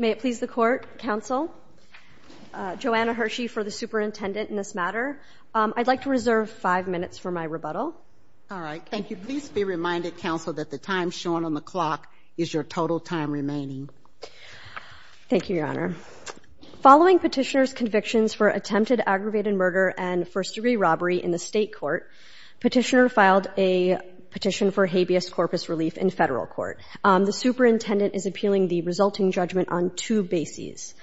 May it please the Court, Counsel, Joanna Hershey for the Superintendent in this matter. I'd like to reserve five minutes for my rebuttal. All right, thank you. Please be reminded, Counsel, that the time shown on the clock is your total time remaining. Thank you, Your Honor. Following Petitioner's convictions for attempted aggravated murder and first-degree robbery in the State Court, Petitioner filed a petition for habeas corpus relief in Federal Court. The Superintendent is appealing the resulting judgment on two bases.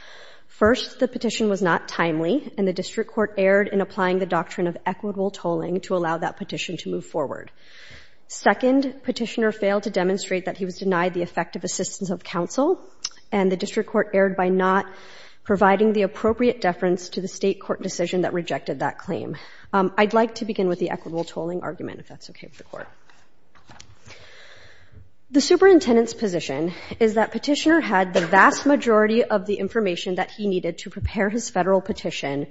First, the petition was not timely, and the District Court erred in applying the doctrine of equitable tolling to allow that petition to move forward. Second, Petitioner failed to demonstrate that he was denied the effective assistance of Counsel, and the District Court erred by not providing the appropriate deference to the State Court decision that rejected that claim. I'd like to begin with the equitable tolling argument, if that's okay with the Court. The Superintendent's position is that Petitioner had the vast majority of the information that he needed to prepare his Federal petition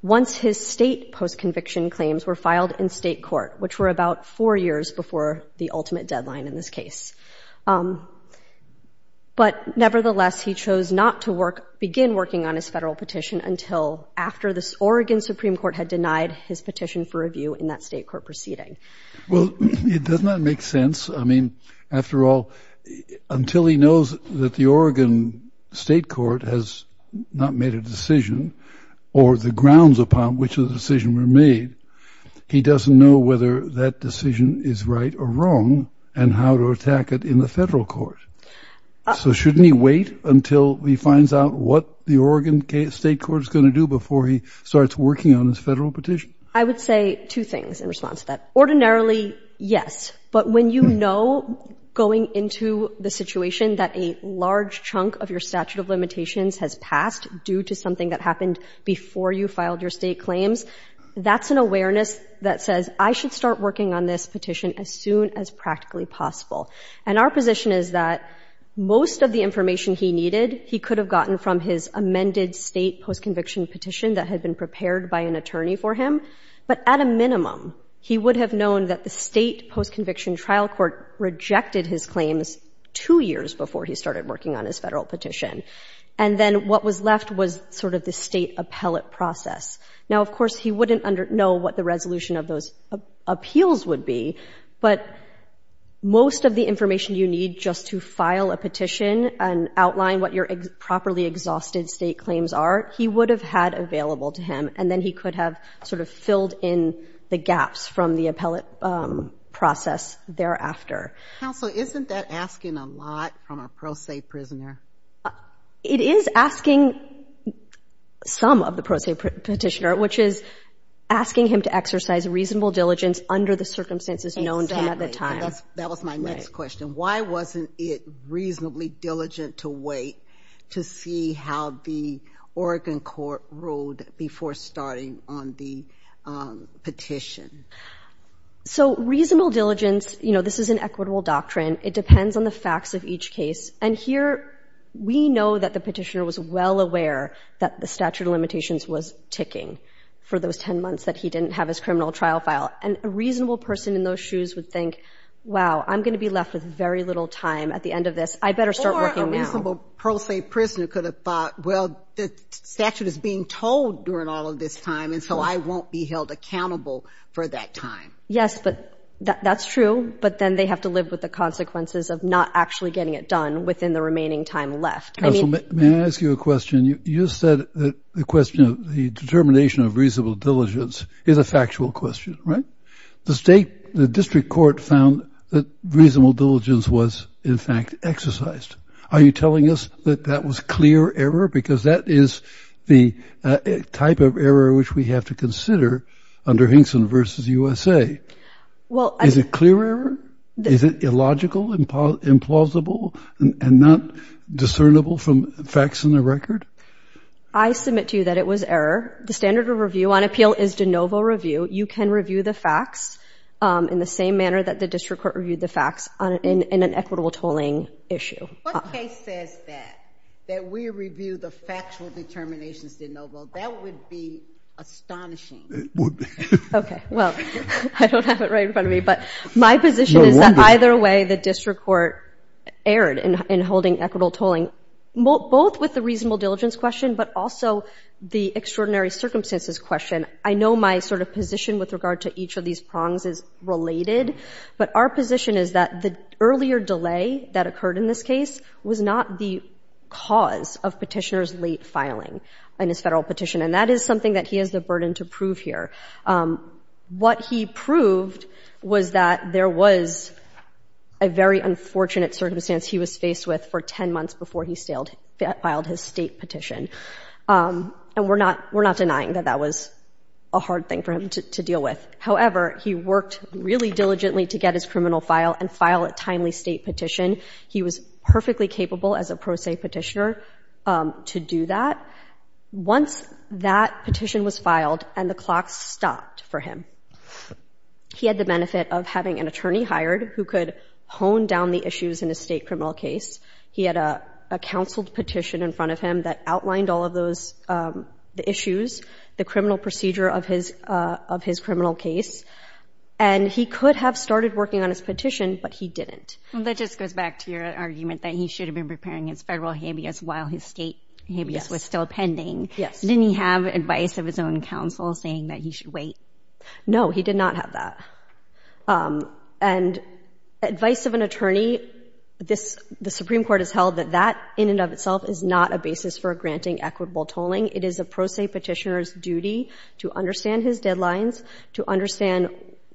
once his State post-conviction claims were filed in State Court, which were about four years before the ultimate deadline in this case. But nevertheless, he chose not to begin working on his Federal petition until after the Oregon Supreme Court had denied his petition for review in that State Court proceeding. Well, it does not make sense. I mean, after all, until he knows that the Oregon State Court has not made a decision or the grounds upon which the decision were made, he doesn't know whether that decision is right or wrong and how to attack it in the Federal court. So shouldn't he wait until he finds out what the Oregon State Court is going to do before he starts working on his Federal petition? I would say two things in response to that. Ordinarily, yes, but when you know going into the situation that a large chunk of your statute of limitations has passed due to something that happened before you filed your State claims, that's an awareness that says, I should start working on this petition as soon as practically possible. And our position is that most of the information he needed, he could have gotten from his amended State post-conviction petition that had been prepared by an attorney for him, but at a minimum, he would have known that the State post-conviction trial court rejected his claims two years before he started working on his Federal petition. And then what was left was sort of the State appellate process. Now, of course, he wouldn't know what the resolution of those appeals would be, but most of the information you need just to file a petition and outline what your properly exhausted State claims are, he would have had available to him, and then he could have sort of filled in the gaps from the appellate process thereafter. Counsel, isn't that asking a lot from a pro se prisoner? It is asking some of the pro se petitioner, which is asking him to exercise reasonable diligence under the circumstances known to him at the time. That was my next question. Why wasn't it reasonably diligent to wait to see how the Oregon court ruled before starting on the petition? So reasonable diligence, you know, this is an equitable doctrine. It depends on the facts of each case. And here we know that the petitioner was well aware that the statute of limitations was ticking for those 10 months that he didn't have his criminal trial file. And a reasonable person in those shoes would think, wow, I'm going to be left with very little time at the end of this. I better start working now. Or a reasonable pro se prisoner could have thought, well, the statute is being told during all of this time, and so I won't be held accountable for that time. Yes, but that's true. But then they have to live with the consequences of not actually getting it done within the remaining time left. Counsel, may I ask you a question? You said the question of the determination of reasonable diligence is a factual question, right? The state, the district court found that reasonable diligence was, in fact, exercised. Are you telling us that that was clear error? Because that is the type of error which we have to consider under Hinkson v. USA. Is it clear error? Is it illogical, implausible, and not discernible from facts in the record? I submit to you that it was error. The standard of review on appeal is de novo review. You can review the facts in the same manner that the district court reviewed the facts in an equitable tolling issue. What case says that, that we review the factual determinations de novo? That would be astonishing. Okay, well, I don't have it right in front of me. But my position is that either way the district court erred in holding equitable tolling, both with the reasonable diligence question but also the extraordinary circumstances question. I know my sort of position with regard to each of these prongs is related. But our position is that the earlier delay that occurred in this case was not the cause of petitioner's late filing in his federal petition. And that is something that he has the burden to prove here. What he proved was that there was a very unfortunate circumstance he was faced with for 10 months before he filed his state petition. And we're not denying that that was a hard thing for him to deal with. However, he worked really diligently to get his criminal file and file a timely state petition. He was perfectly capable as a pro se petitioner to do that. Once that petition was filed and the clock stopped for him, he had the benefit of having an attorney hired who could hone down the issues in a state criminal case. He had a counseled petition in front of him that outlined all of those issues, the criminal procedure of his criminal case. And he could have started working on his petition, but he didn't. That just goes back to your argument that he should have been preparing his federal habeas while his state habeas was still pending. Yes. Didn't he have advice of his own counsel saying that he should wait? No, he did not have that. And advice of an attorney, the Supreme Court has held that that in and of itself is not a basis for granting equitable tolling. It is a pro se petitioner's duty to understand his deadlines, to understand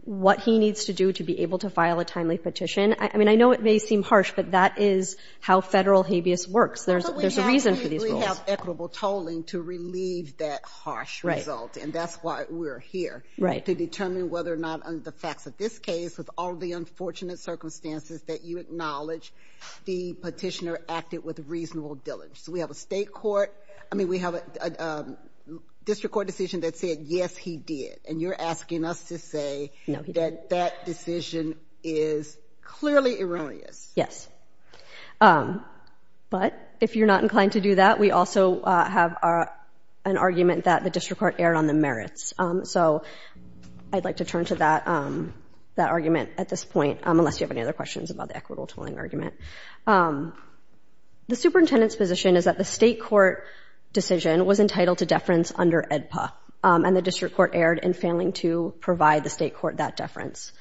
what he needs to do to be able to file a timely petition. I mean, I know it may seem harsh, but that is how federal habeas works. There's a reason for these rules. But we have equitable tolling to relieve that harsh result, and that's why we're here. Right. And to determine whether or not, under the facts of this case, with all the unfortunate circumstances that you acknowledge, the petitioner acted with reasonable diligence. We have a state court, I mean, we have a district court decision that said, yes, he did. And you're asking us to say that that decision is clearly erroneous. Yes. But if you're not inclined to do that, we also have an argument that the district court erred on the merits. So I'd like to turn to that argument at this point, unless you have any other questions about the equitable tolling argument. The superintendent's position is that the state court decision was entitled to deference under AEDPA, and the district court erred in failing to provide the state court that deference.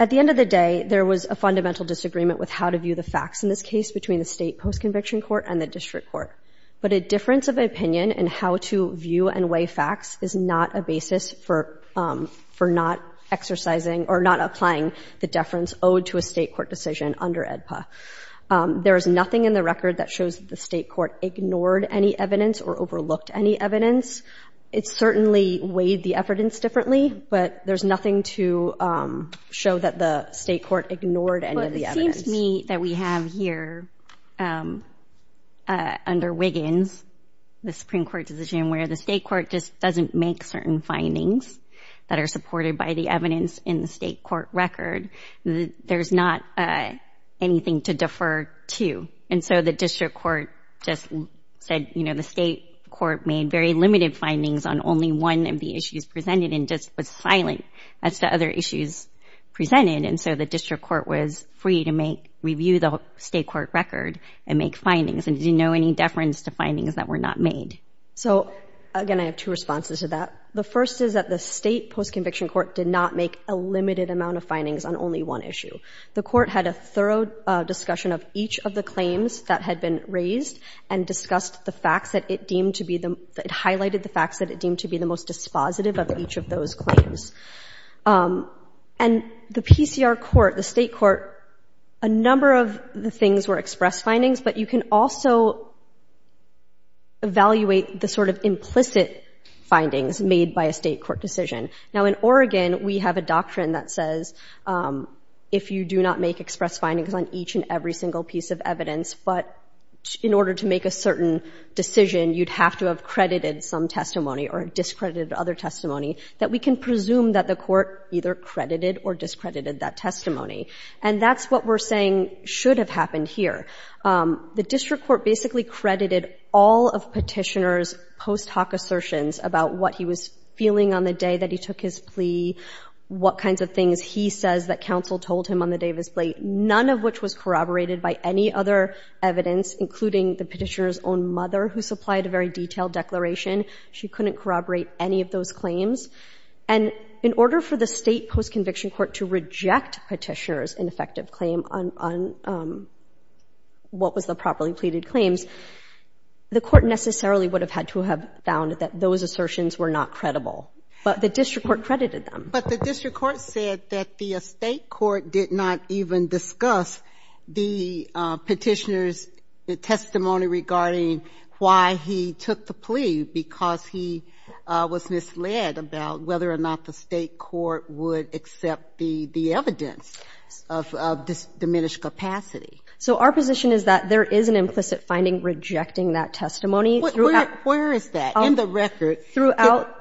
At the end of the day, there was a fundamental disagreement with how to view the facts in this case between the state post-conviction court and the district court. But a difference of opinion in how to view and weigh facts is not a basis for not exercising or not applying the deference owed to a state court decision under AEDPA. There is nothing in the record that shows the state court ignored any evidence or overlooked any evidence. It certainly weighed the evidence differently, but there's nothing to show that the state court ignored any of the evidence. It's just me that we have here under Wiggins, the Supreme Court decision, where the state court just doesn't make certain findings that are supported by the evidence in the state court record. There's not anything to defer to. And so the district court just said, you know, the state court made very limited findings on only one of the issues presented and just was silent as to other issues presented. And so the district court was free to make review the state court record and make findings. And did you know any deference to findings that were not made? So, again, I have two responses to that. The first is that the state post-conviction court did not make a limited amount of findings on only one issue. The court had a thorough discussion of each of the claims that had been raised and discussed the facts that it deemed to be the highlighted the facts that it deemed to be the most dispositive of each of those claims. And the PCR court, the state court, a number of the things were express findings, but you can also evaluate the sort of implicit findings made by a state court decision. Now, in Oregon, we have a doctrine that says if you do not make express findings on each and every single piece of evidence, but in order to make a certain decision, you'd have to have credited some testimony or discredited other testimony, that we can presume that the court either credited or discredited that testimony. And that's what we're saying should have happened here. The district court basically credited all of Petitioner's post hoc assertions about what he was feeling on the day that he took his plea, what kinds of things he says that counsel told him on the day of his plea, none of which was corroborated by any other evidence, including the Petitioner's own mother, who supplied a very detailed declaration. She couldn't corroborate any of those claims. And in order for the state post-conviction court to reject Petitioner's ineffective claim on what was the properly pleaded claims, the court necessarily would have had to have found that those assertions were not credible. But the district court credited them. But the district court said that the state court did not even discuss the Petitioner's testimony regarding why he took the plea, because he was misled about whether or not the state court would accept the evidence of diminished capacity. So our position is that there is an implicit finding rejecting that testimony. Where is that in the record?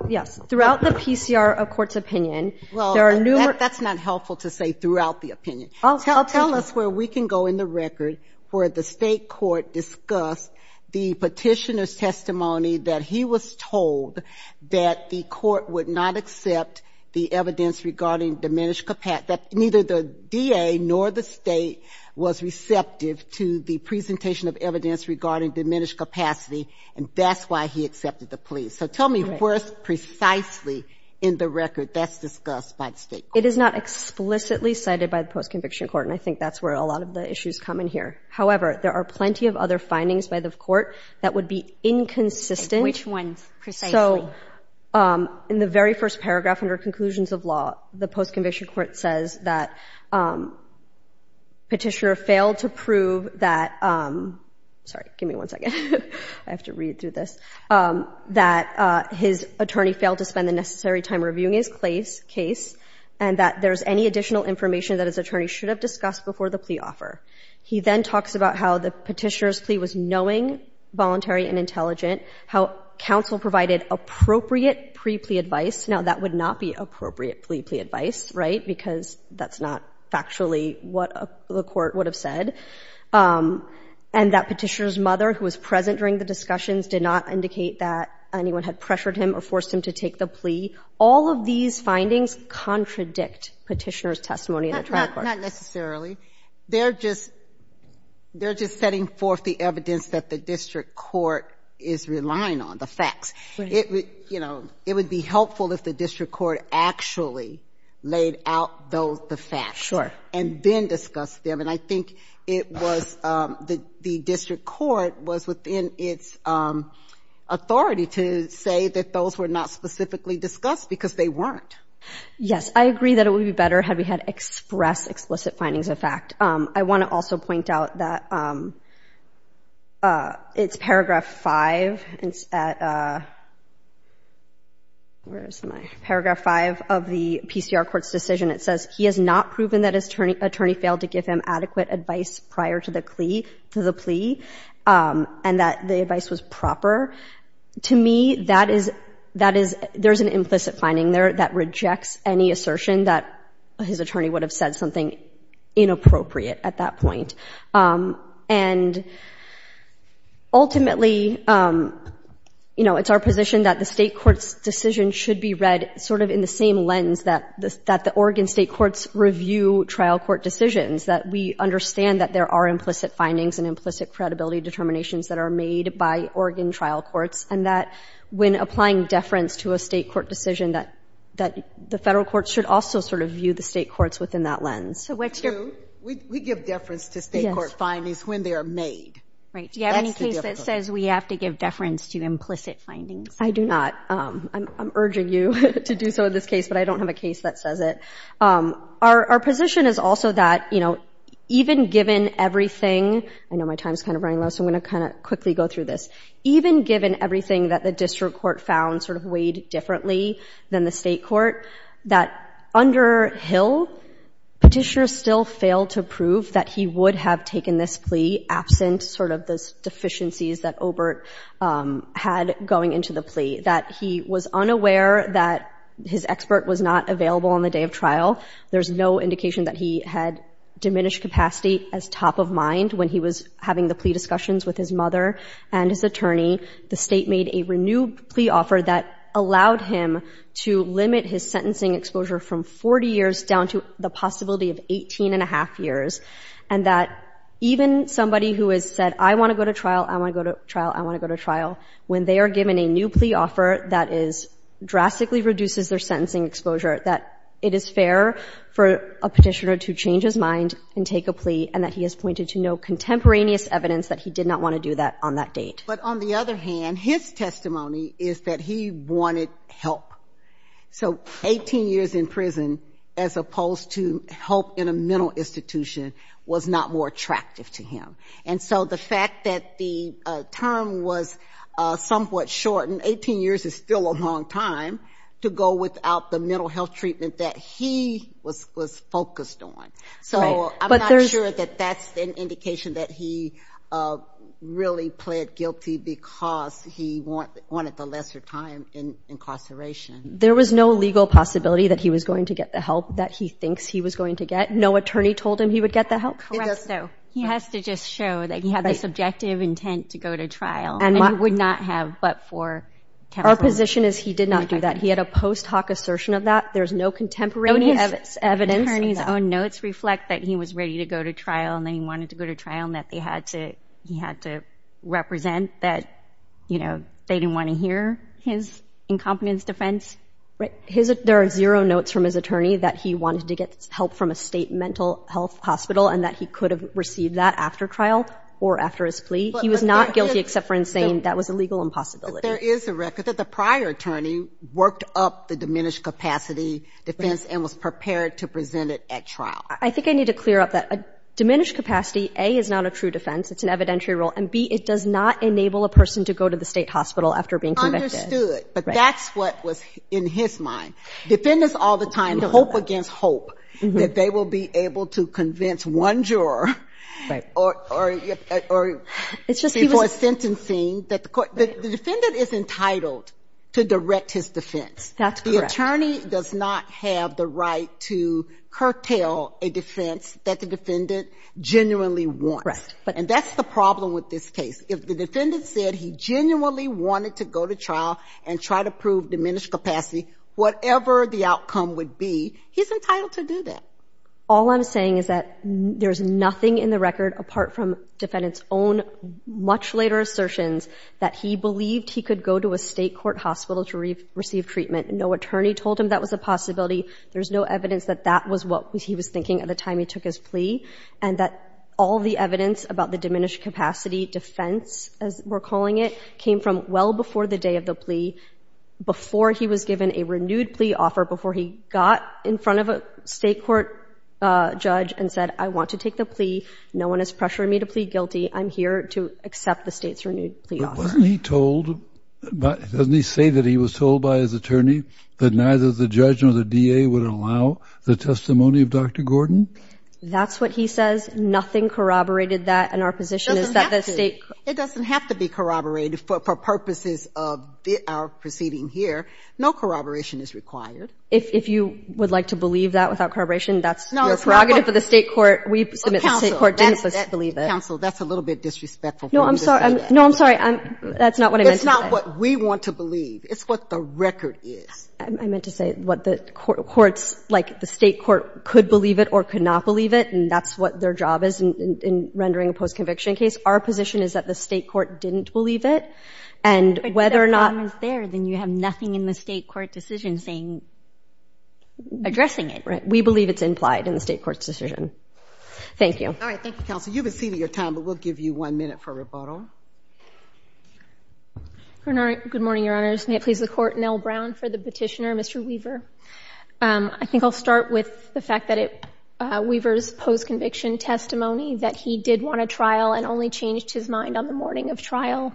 Yes. Throughout the PCR of court's opinion, there are numerous ñ Well, that's not helpful to say throughout the opinion. I'll tell you. Tell us where we can go in the record where the state court discussed the Petitioner's testimony that he was told that the court would not accept the evidence regarding diminished capacity, that neither the DA nor the state was receptive to the presentation of evidence regarding diminished capacity, and that's why he accepted the plea. So tell me where precisely in the record that's discussed by the state court. It is not explicitly cited by the post-conviction court, and I think that's where a lot of the issues come in here. However, there are plenty of other findings by the court that would be inconsistent. Which ones precisely? So in the very first paragraph under conclusions of law, the post-conviction court says that Petitioner failed to prove that ñ sorry, give me one second. I have to read through this ñ that his attorney failed to spend the necessary time reviewing his case and that there's any additional information that his attorney should have discussed before the plea offer. He then talks about how the Petitioner's plea was knowing, voluntary, and intelligent, how counsel provided appropriate pre-plea advice. Now, that would not be appropriate plea advice, right, because that's not factually what the court would have said. And that Petitioner's mother, who was present during the discussions, did not indicate that anyone had pressured him or forced him to take the plea. All of these findings contradict Petitioner's testimony in the trial court. Not necessarily. They're just ñ they're just setting forth the evidence that the district court is relying on, the facts. Right. You know, it would be helpful if the district court actually laid out the facts. Sure. And then discussed them. And I think it was ñ the district court was within its authority to say that those were not specifically discussed because they weren't. Yes. I agree that it would be better had we had express, explicit findings of fact. I want to also point out that it's paragraph 5. It's at ñ where is my ñ paragraph 5 of the PCR court's decision. It says, he has not proven that his attorney failed to give him adequate advice prior to the plea, and that the advice was proper. To me, that is ñ that is ñ there's an implicit finding there that rejects any assertion that his attorney would have said something inappropriate at that point. And ultimately, you know, it's our position that the state court's decision should be read sort of in the same lens that the Oregon state court's review trial court decisions, that we understand that there are implicit findings and implicit credibility determinations that are made by Oregon trial courts, and that when applying deference to a state court decision, that the federal court should also sort of view the state courts within that lens. True. We give deference to state court findings when they are made. Right. Do you have any case that says we have to give deference to implicit findings? I do not. I'm urging you to do so in this case, but I don't have a case that says it. Our position is also that, you know, even given everything ñ I know my time's kind of running low, so I'm going to kind of quickly go through this. Even given everything that the district court found sort of weighed differently than the state court, that under Hill, petitioners still failed to prove that he would have taken this plea absent sort of those deficiencies that Obert had going into the plea, that he was unaware that his expert was not available on the day of trial. There's no indication that he had diminished capacity as top of mind when he was having the plea discussions with his mother and his attorney. The state made a renewed plea offer that allowed him to limit his sentencing exposure from 40 years down to the possibility of 18 and a half years, and that even somebody who has said, I want to go to trial, I want to go to trial, I want to go to trial, when they are given a new plea offer that is ñ drastically reduces their sentencing exposure, that it is fair for a petitioner to change his mind and take a plea and that he has pointed to no contemporaneous evidence that he did not want to do that on that date. But on the other hand, his testimony is that he wanted help. So 18 years in prison as opposed to help in a mental institution was not more attractive to him. And so the fact that the term was somewhat shortened, 18 years is still a long time, to go without the mental health treatment that he was focused on. So I'm not sure that that's an indication that he really pled guilty because he wanted the lesser time in incarceration. There was no legal possibility that he was going to get the help that he thinks he was going to get? No attorney told him he would get the help? Correcto. He has to just show that he had the subjective intent to go to trial. And he would not have but for counseling. Our position is he did not do that. He had a post hoc assertion of that. There's no contemporaneous evidence. No attorney's own notes reflect that he was ready to go to trial and that he wanted to go to trial and that he had to represent that they didn't want to hear his incompetence defense. Right. There are zero notes from his attorney that he wanted to get help from a state mental health hospital and that he could have received that after trial or after his plea. He was not guilty except for in saying that was a legal impossibility. There is a record that the prior attorney worked up the diminished capacity defense and was prepared to present it at trial. I think I need to clear up that. Diminished capacity, A, is not a true defense. It's an evidentiary rule. And, B, it does not enable a person to go to the state hospital after being convicted. Understood. But that's what was in his mind. Defendants all the time hope against hope that they will be able to convince one juror or before sentencing that the defendant is entitled to direct his defense. That's correct. The attorney does not have the right to curtail a defense that the defendant genuinely wants. Right. And that's the problem with this case. If the defendant said he genuinely wanted to go to trial and try to prove diminished capacity, whatever the outcome would be, he's entitled to do that. All I'm saying is that there's nothing in the record apart from defendant's own much later assertions that he believed he could go to a state court hospital to receive treatment. No attorney told him that was a possibility. There's no evidence that that was what he was thinking at the time he took his plea. And that all the evidence about the diminished capacity defense, as we're Before he was given a renewed plea offer, before he got in front of a state court judge and said, I want to take the plea. No one is pressuring me to plead guilty. I'm here to accept the state's renewed plea offer. But wasn't he told, doesn't he say that he was told by his attorney that neither the judge nor the DA would allow the testimony of Dr. Gordon? That's what he says. Nothing corroborated that. And our position is that the state. It doesn't have to be corroborated for purposes of our proceeding here. No corroboration is required. If you would like to believe that without corroboration, that's the prerogative of the state court. We submit the state court didn't believe it. Counsel, that's a little bit disrespectful. No, I'm sorry. No, I'm sorry. That's not what I meant to say. That's not what we want to believe. It's what the record is. I meant to say what the courts, like the state court, could believe it or could not believe it. And that's what their job is in rendering a post-conviction case. Our position is that the state court didn't believe it. But if that problem is there, then you have nothing in the state court decision addressing it. Right. We believe it's implied in the state court's decision. Thank you. All right. Thank you, Counsel. You've exceeded your time, but we'll give you one minute for rebuttal. Good morning, Your Honors. May it please the Court. Nell Brown for the petitioner. Mr. Weaver. I think I'll start with the fact that Weaver's post-conviction testimony, that he did want a trial and only changed his mind on the morning of trial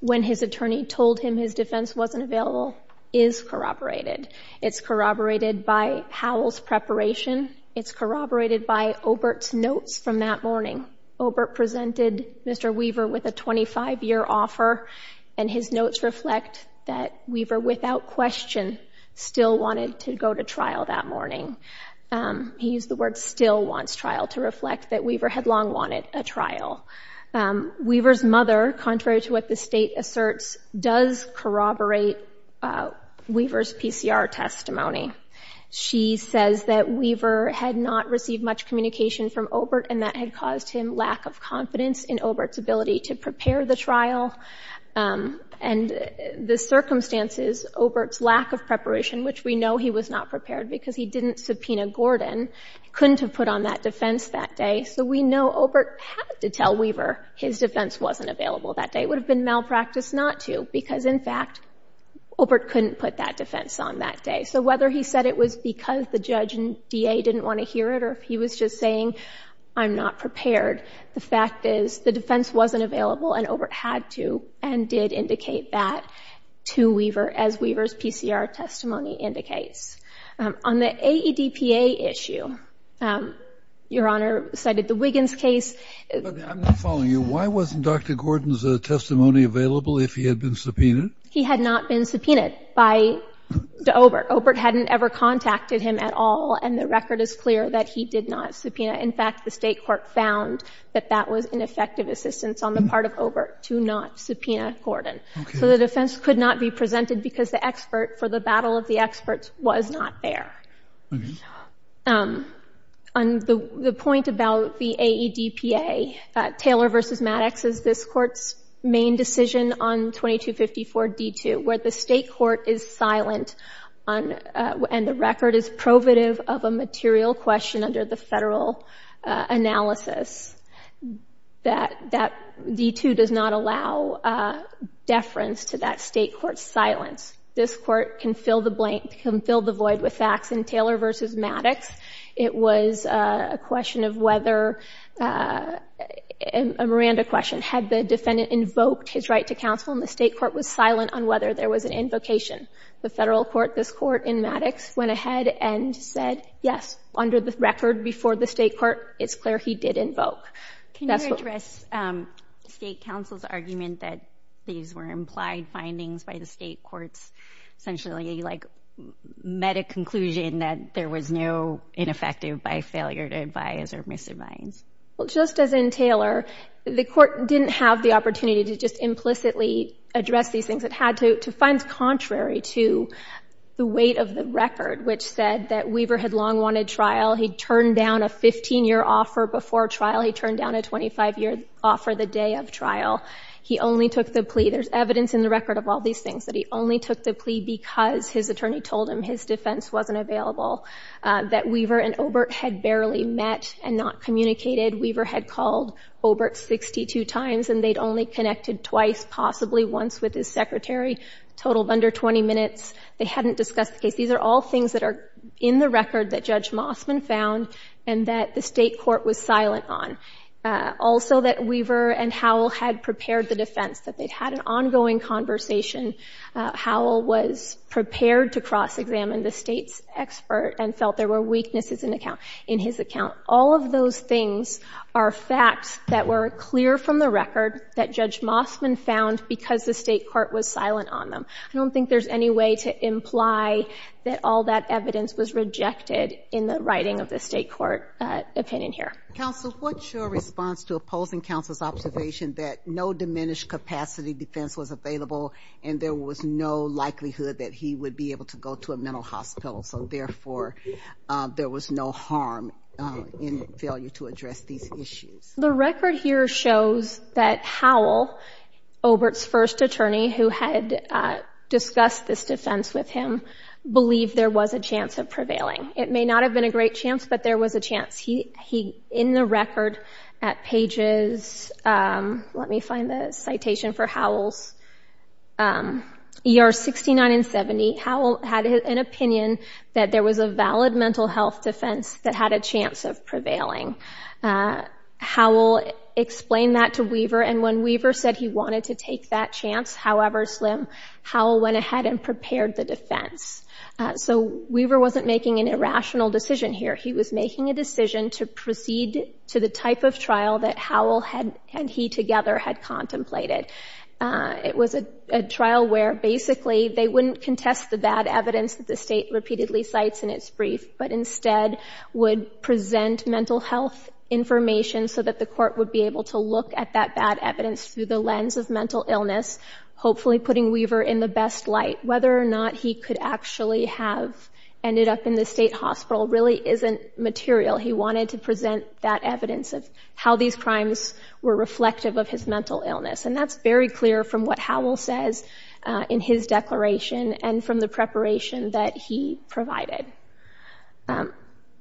when his attorney told him his defense wasn't available, is corroborated. It's corroborated by Howell's preparation. It's corroborated by Obert's notes from that morning. Obert presented Mr. Weaver with a 25-year offer, and his notes reflect that Weaver, without question, still wanted to go to trial that morning. He used the word still wants trial to reflect that Weaver had long wanted a trial. Weaver's mother, contrary to what the state asserts, does corroborate Weaver's PCR testimony. She says that Weaver had not received much communication from Obert and that had caused him lack of confidence in Obert's ability to prepare the trial. And the circumstances, Obert's lack of preparation, which we know he was not prepared because he didn't subpoena Gordon, couldn't have put on that defense that day. So we know Obert had to tell Weaver his defense wasn't available that day. It would have been malpractice not to because, in fact, Obert couldn't put that defense on that day. So whether he said it was because the judge and DA didn't want to hear it or he was just saying, I'm not prepared, the fact is the defense wasn't available and Obert had to and did indicate that to Weaver as Weaver's PCR testimony indicates. On the AEDPA issue, Your Honor cited the Wiggins case. I'm not following you. Why wasn't Dr. Gordon's testimony available if he had been subpoenaed? He had not been subpoenaed by Obert. Obert hadn't ever contacted him at all, and the record is clear that he did not subpoena. In fact, the state court found that that was ineffective assistance on the part of Obert to not subpoena Gordon. So the defense could not be presented because the expert for the battle of the experts was not there. On the point about the AEDPA, Taylor v. Maddox is this Court's main decision on 2254-D2, where the state court is silent and the record is provative of a material question under the federal analysis. That D2 does not allow deference to that state court's silence. This court can fill the blank, can fill the void with facts. In Taylor v. Maddox, it was a question of whether, a Miranda question, had the defendant invoked his right to counsel, and the state court was silent on whether there was an invocation. The federal court, this court in Maddox, went ahead and said, yes, under the record before the state court, it's clear he did invoke. Can you address state counsel's argument that these were implied findings by the state courts, essentially, like, met a conclusion that there was no ineffective by failure to advise or misadvise? Well, just as in Taylor, the court didn't have the opportunity to just implicitly address these things. It had to find contrary to the weight of the record, which said that Weaver had long wanted trial. He turned down a 15-year offer before trial. He turned down a 25-year offer the day of trial. He only took the plea. There's evidence in the record of all these things, that he only took the plea because his attorney told him his defense wasn't available, that Weaver and Obert had barely met and not communicated. Weaver had called Obert 62 times, and they'd only connected twice, possibly once, with his secretary, a total of under 20 minutes. They hadn't discussed the case. These are all things that are in the record that Judge Mossman found and that the state court was silent on. Also, that Weaver and Howell had prepared the defense, that they'd had an ongoing conversation. Howell was prepared to cross-examine the state's expert and felt there were weaknesses in his account. All of those things are facts that were clear from the record that Judge Mossman found because the state court was silent on them. I don't think there's any way to imply that all that evidence was rejected in the writing of the state court opinion here. Counsel, what's your response to opposing counsel's observation that no diminished capacity defense was available and there was no likelihood that he would be able to go to a mental hospital, so therefore there was no harm in failure to address these issues? The record here shows that Howell, Obert's first attorney who had discussed this defense with him, believed there was a chance of prevailing. It may not have been a great chance, but there was a chance. He, in the record at pages, let me find the citation for Howell's, ER 69 and 70, Howell had an opinion that there was a valid mental health defense that had a chance of prevailing. Howell explained that to Weaver, and when Weaver said he wanted to take that chance, however slim, Howell went ahead and prepared the defense. So Weaver wasn't making an irrational decision here. He was making a decision to proceed to the type of trial that Howell and he together had contemplated. It was a trial where basically they wouldn't contest the bad evidence that the state repeatedly cites in its brief, but instead would present mental health information so that the court would be able to look at that bad evidence through the lens of mental illness, hopefully putting Weaver in the best light. Whether or not he could actually have ended up in the state hospital really isn't material. He wanted to present that evidence of how these crimes were reflective of his mental illness, and that's very clear from what Howell says in his declaration and from the preparation that he provided. I'll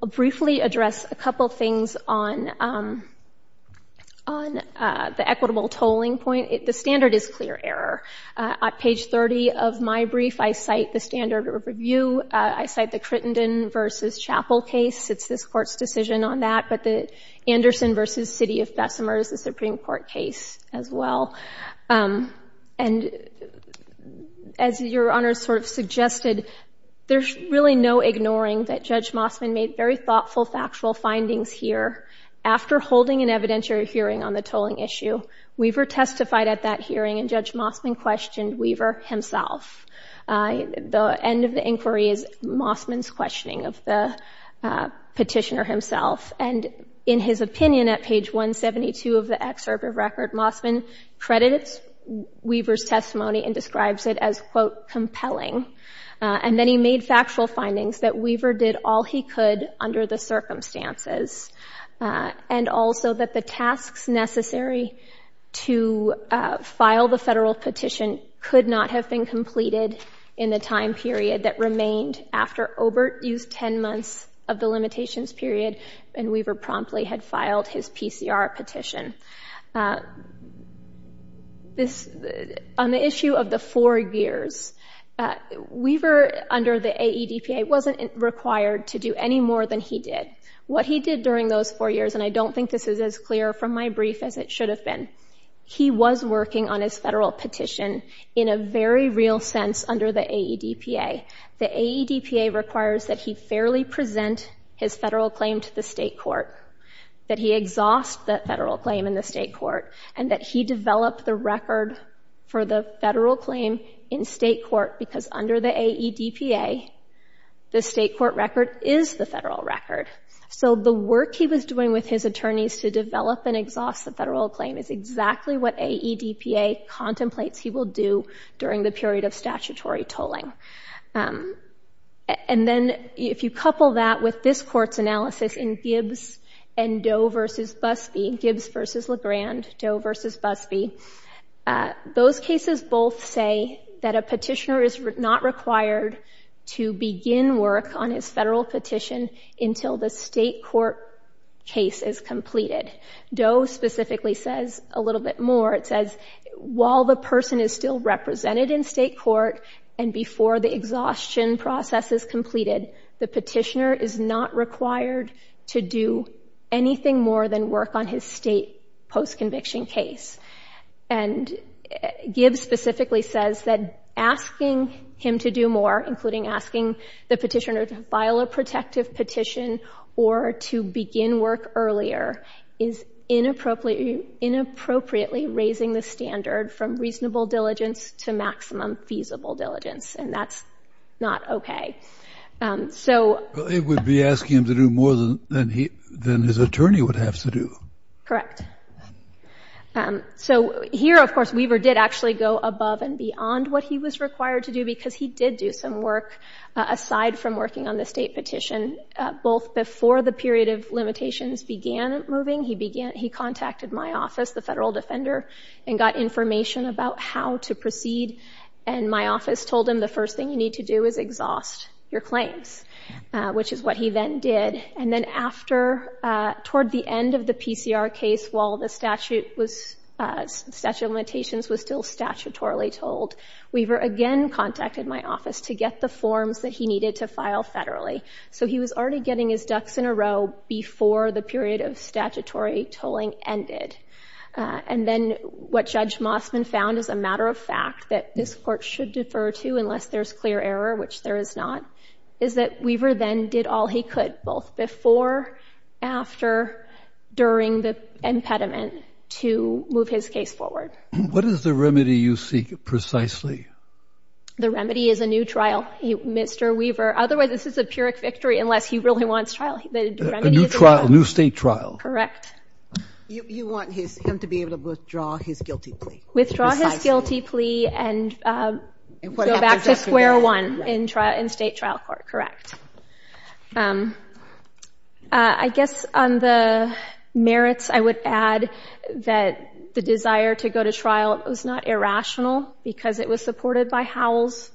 briefly address a couple things on the equitable tolling point. The standard is clear error. On page 30 of my brief, I cite the standard of review. I cite the Crittenden v. Chappell case. It's this Court's decision on that, but the Anderson v. City of Bessemer is a Supreme Court case as well. And as Your Honor sort of suggested, there's really no ignoring that Judge Mossman made very thoughtful, factual findings here. After holding an evidentiary hearing on the tolling issue, Weaver testified at that hearing, and Judge Mossman questioned Weaver himself. The end of the inquiry is Mossman's questioning of the petitioner himself. And in his opinion at page 172 of the excerpt of record, Mossman credited Weaver's testimony and describes it as, quote, compelling. And then he made factual findings that Weaver did all he could under the circumstances and also that the tasks necessary to file the federal petition could not have been completed in the time period that remained after Obert used 10 months of the limitations period and Weaver promptly had filed his PCR petition. On the issue of the four years, Weaver under the AEDPA wasn't required to do any more than he did. What he did during those four years, and I don't think this is as clear from my brief as it should have been, he was working on his federal petition in a very real sense under the AEDPA. The AEDPA requires that he fairly present his federal claim to the state court, that he exhaust that federal claim in the state court, and that he develop the record for the federal claim in state court because under the AEDPA the state court record is the federal record. So the work he was doing with his attorneys to develop and exhaust the federal claim is exactly what AEDPA contemplates he will do during the period of statutory tolling. And then if you couple that with this court's analysis in Gibbs and Doe v. Busby, Gibbs v. Legrand, Doe v. Busby, those cases both say that a petitioner is not required to begin work on his federal petition until the state court case is completed. Doe specifically says a little bit more. It says while the person is still represented in state court and before the exhaustion process is completed, the petitioner is not required to do anything more than work on his state post-conviction case. And Gibbs specifically says that asking him to do more, including asking the petitioner to file a protective petition or to begin work earlier, is inappropriately raising the standard from reasonable diligence to maximum feasible diligence, and that's not okay. It would be asking him to do more than his attorney would have to do. So here, of course, Weaver did actually go above and beyond what he was required to do because he did do some work aside from working on the state petition, both before the period of limitations began moving. He contacted my office, the federal defender, and got information about how to proceed, and my office told him the first thing you need to do is exhaust your claims, which is what he then did. And then after, toward the end of the PCR case, while the statute of limitations was still statutorily told, Weaver again contacted my office to get the forms that he needed to file federally. So he was already getting his ducks in a row before the period of statutory tolling ended. And then what Judge Mossman found, as a matter of fact, that this Court should defer to unless there's clear error, which there is not, is that Weaver then did all he could, both before, after, during the impediment, to move his case forward. What is the remedy you seek precisely? The remedy is a new trial, Mr. Weaver. Otherwise, this is a Pyrrhic victory unless he really wants trial. A new state trial. Correct. You want him to be able to withdraw his guilty plea. Withdraw his guilty plea and go back to square one in state trial court. Correct. I guess on the merits, I would add that the desire to go to trial was not irrational because it was supported by Howell's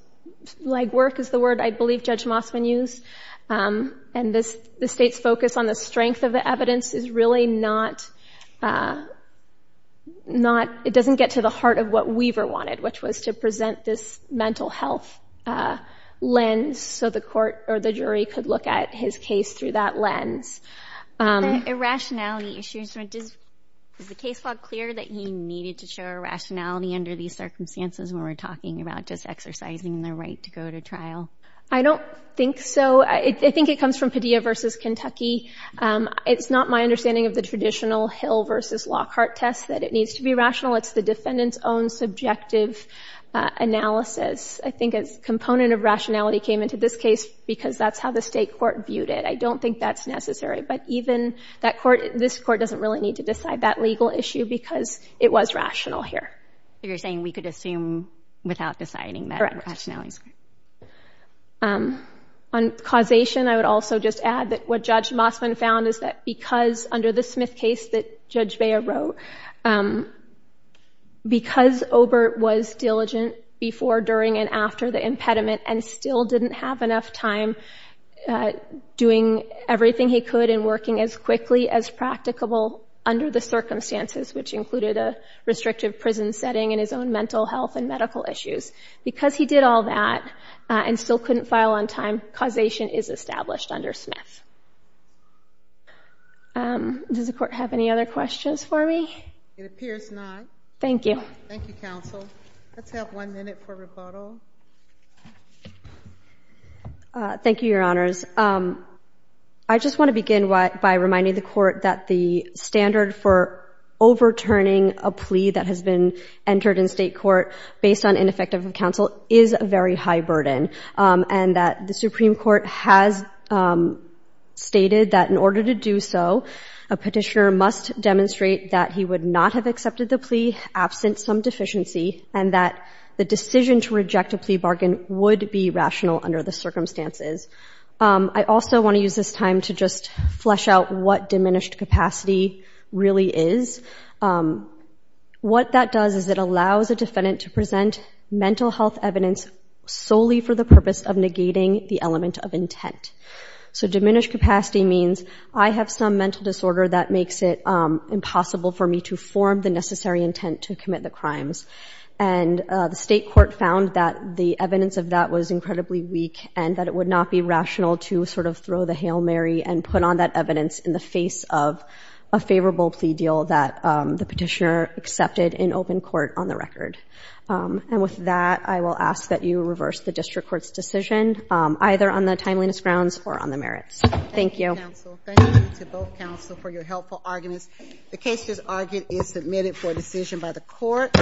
legwork is the word I believe Judge Mossman used. And the state's focus on the strength of the evidence is really not, it doesn't get to the heart of what Weaver wanted, which was to present this mental health lens so the court or the jury could look at his case through that lens. Irrationality issues. Is the case law clear that you needed to show irrationality under these circumstances when we're talking about just exercising the right to go to trial? I don't think so. I think it comes from Padilla v. Kentucky. It's not my understanding of the traditional Hill v. Lockhart test that it needs to be rational. It's the defendant's own subjective analysis. I think a component of rationality came into this case because that's how the state court viewed it. I don't think that's necessary, but even that court, this court doesn't really need to decide that legal issue because it was rational here. So you're saying we could assume without deciding that rationality? Correct. On causation, I would also just add that what Judge Mossman found is that because under the Smith case that Judge Beyer wrote, because Obert was diligent before, during, and after the impediment and still didn't have enough time doing everything he could and working as quickly as practicable under the circumstances, which included a restrictive prison setting and his own mental health and medical issues, because he did all that and still couldn't file on time, causation is established under Smith. Does the court have any other questions for me? It appears not. Thank you. Thank you, counsel. Let's have one minute for rebuttal. Thank you, Your Honors. I just want to begin by reminding the Court that the standard for overturning a plea that has been entered in state court based on ineffective counsel is a very high burden and that the Supreme Court has stated that in order to do so, a petitioner must demonstrate that he would not have accepted the plea absent some deficiency and that the decision to reject a plea bargain would be rational under the circumstances. I also want to use this time to just flesh out what diminished capacity really is. What that does is it allows a defendant to present mental health evidence solely for the purpose of negating the element of intent. So diminished capacity means I have some mental disorder that makes it impossible for me to form the necessary intent to commit the crimes. And the state court found that the evidence of that was incredibly weak and that it would not be rational to sort of throw the Hail Mary and put on that evidence in the face of a favorable plea deal that the petitioner accepted in open court on the record. And with that, I will ask that you reverse the district court's decision, either on the timeliness grounds or on the merits. Thank you. Thank you, counsel. Thank you to both counsel for your helpful arguments. The case, as argued, is submitted for decision by the court.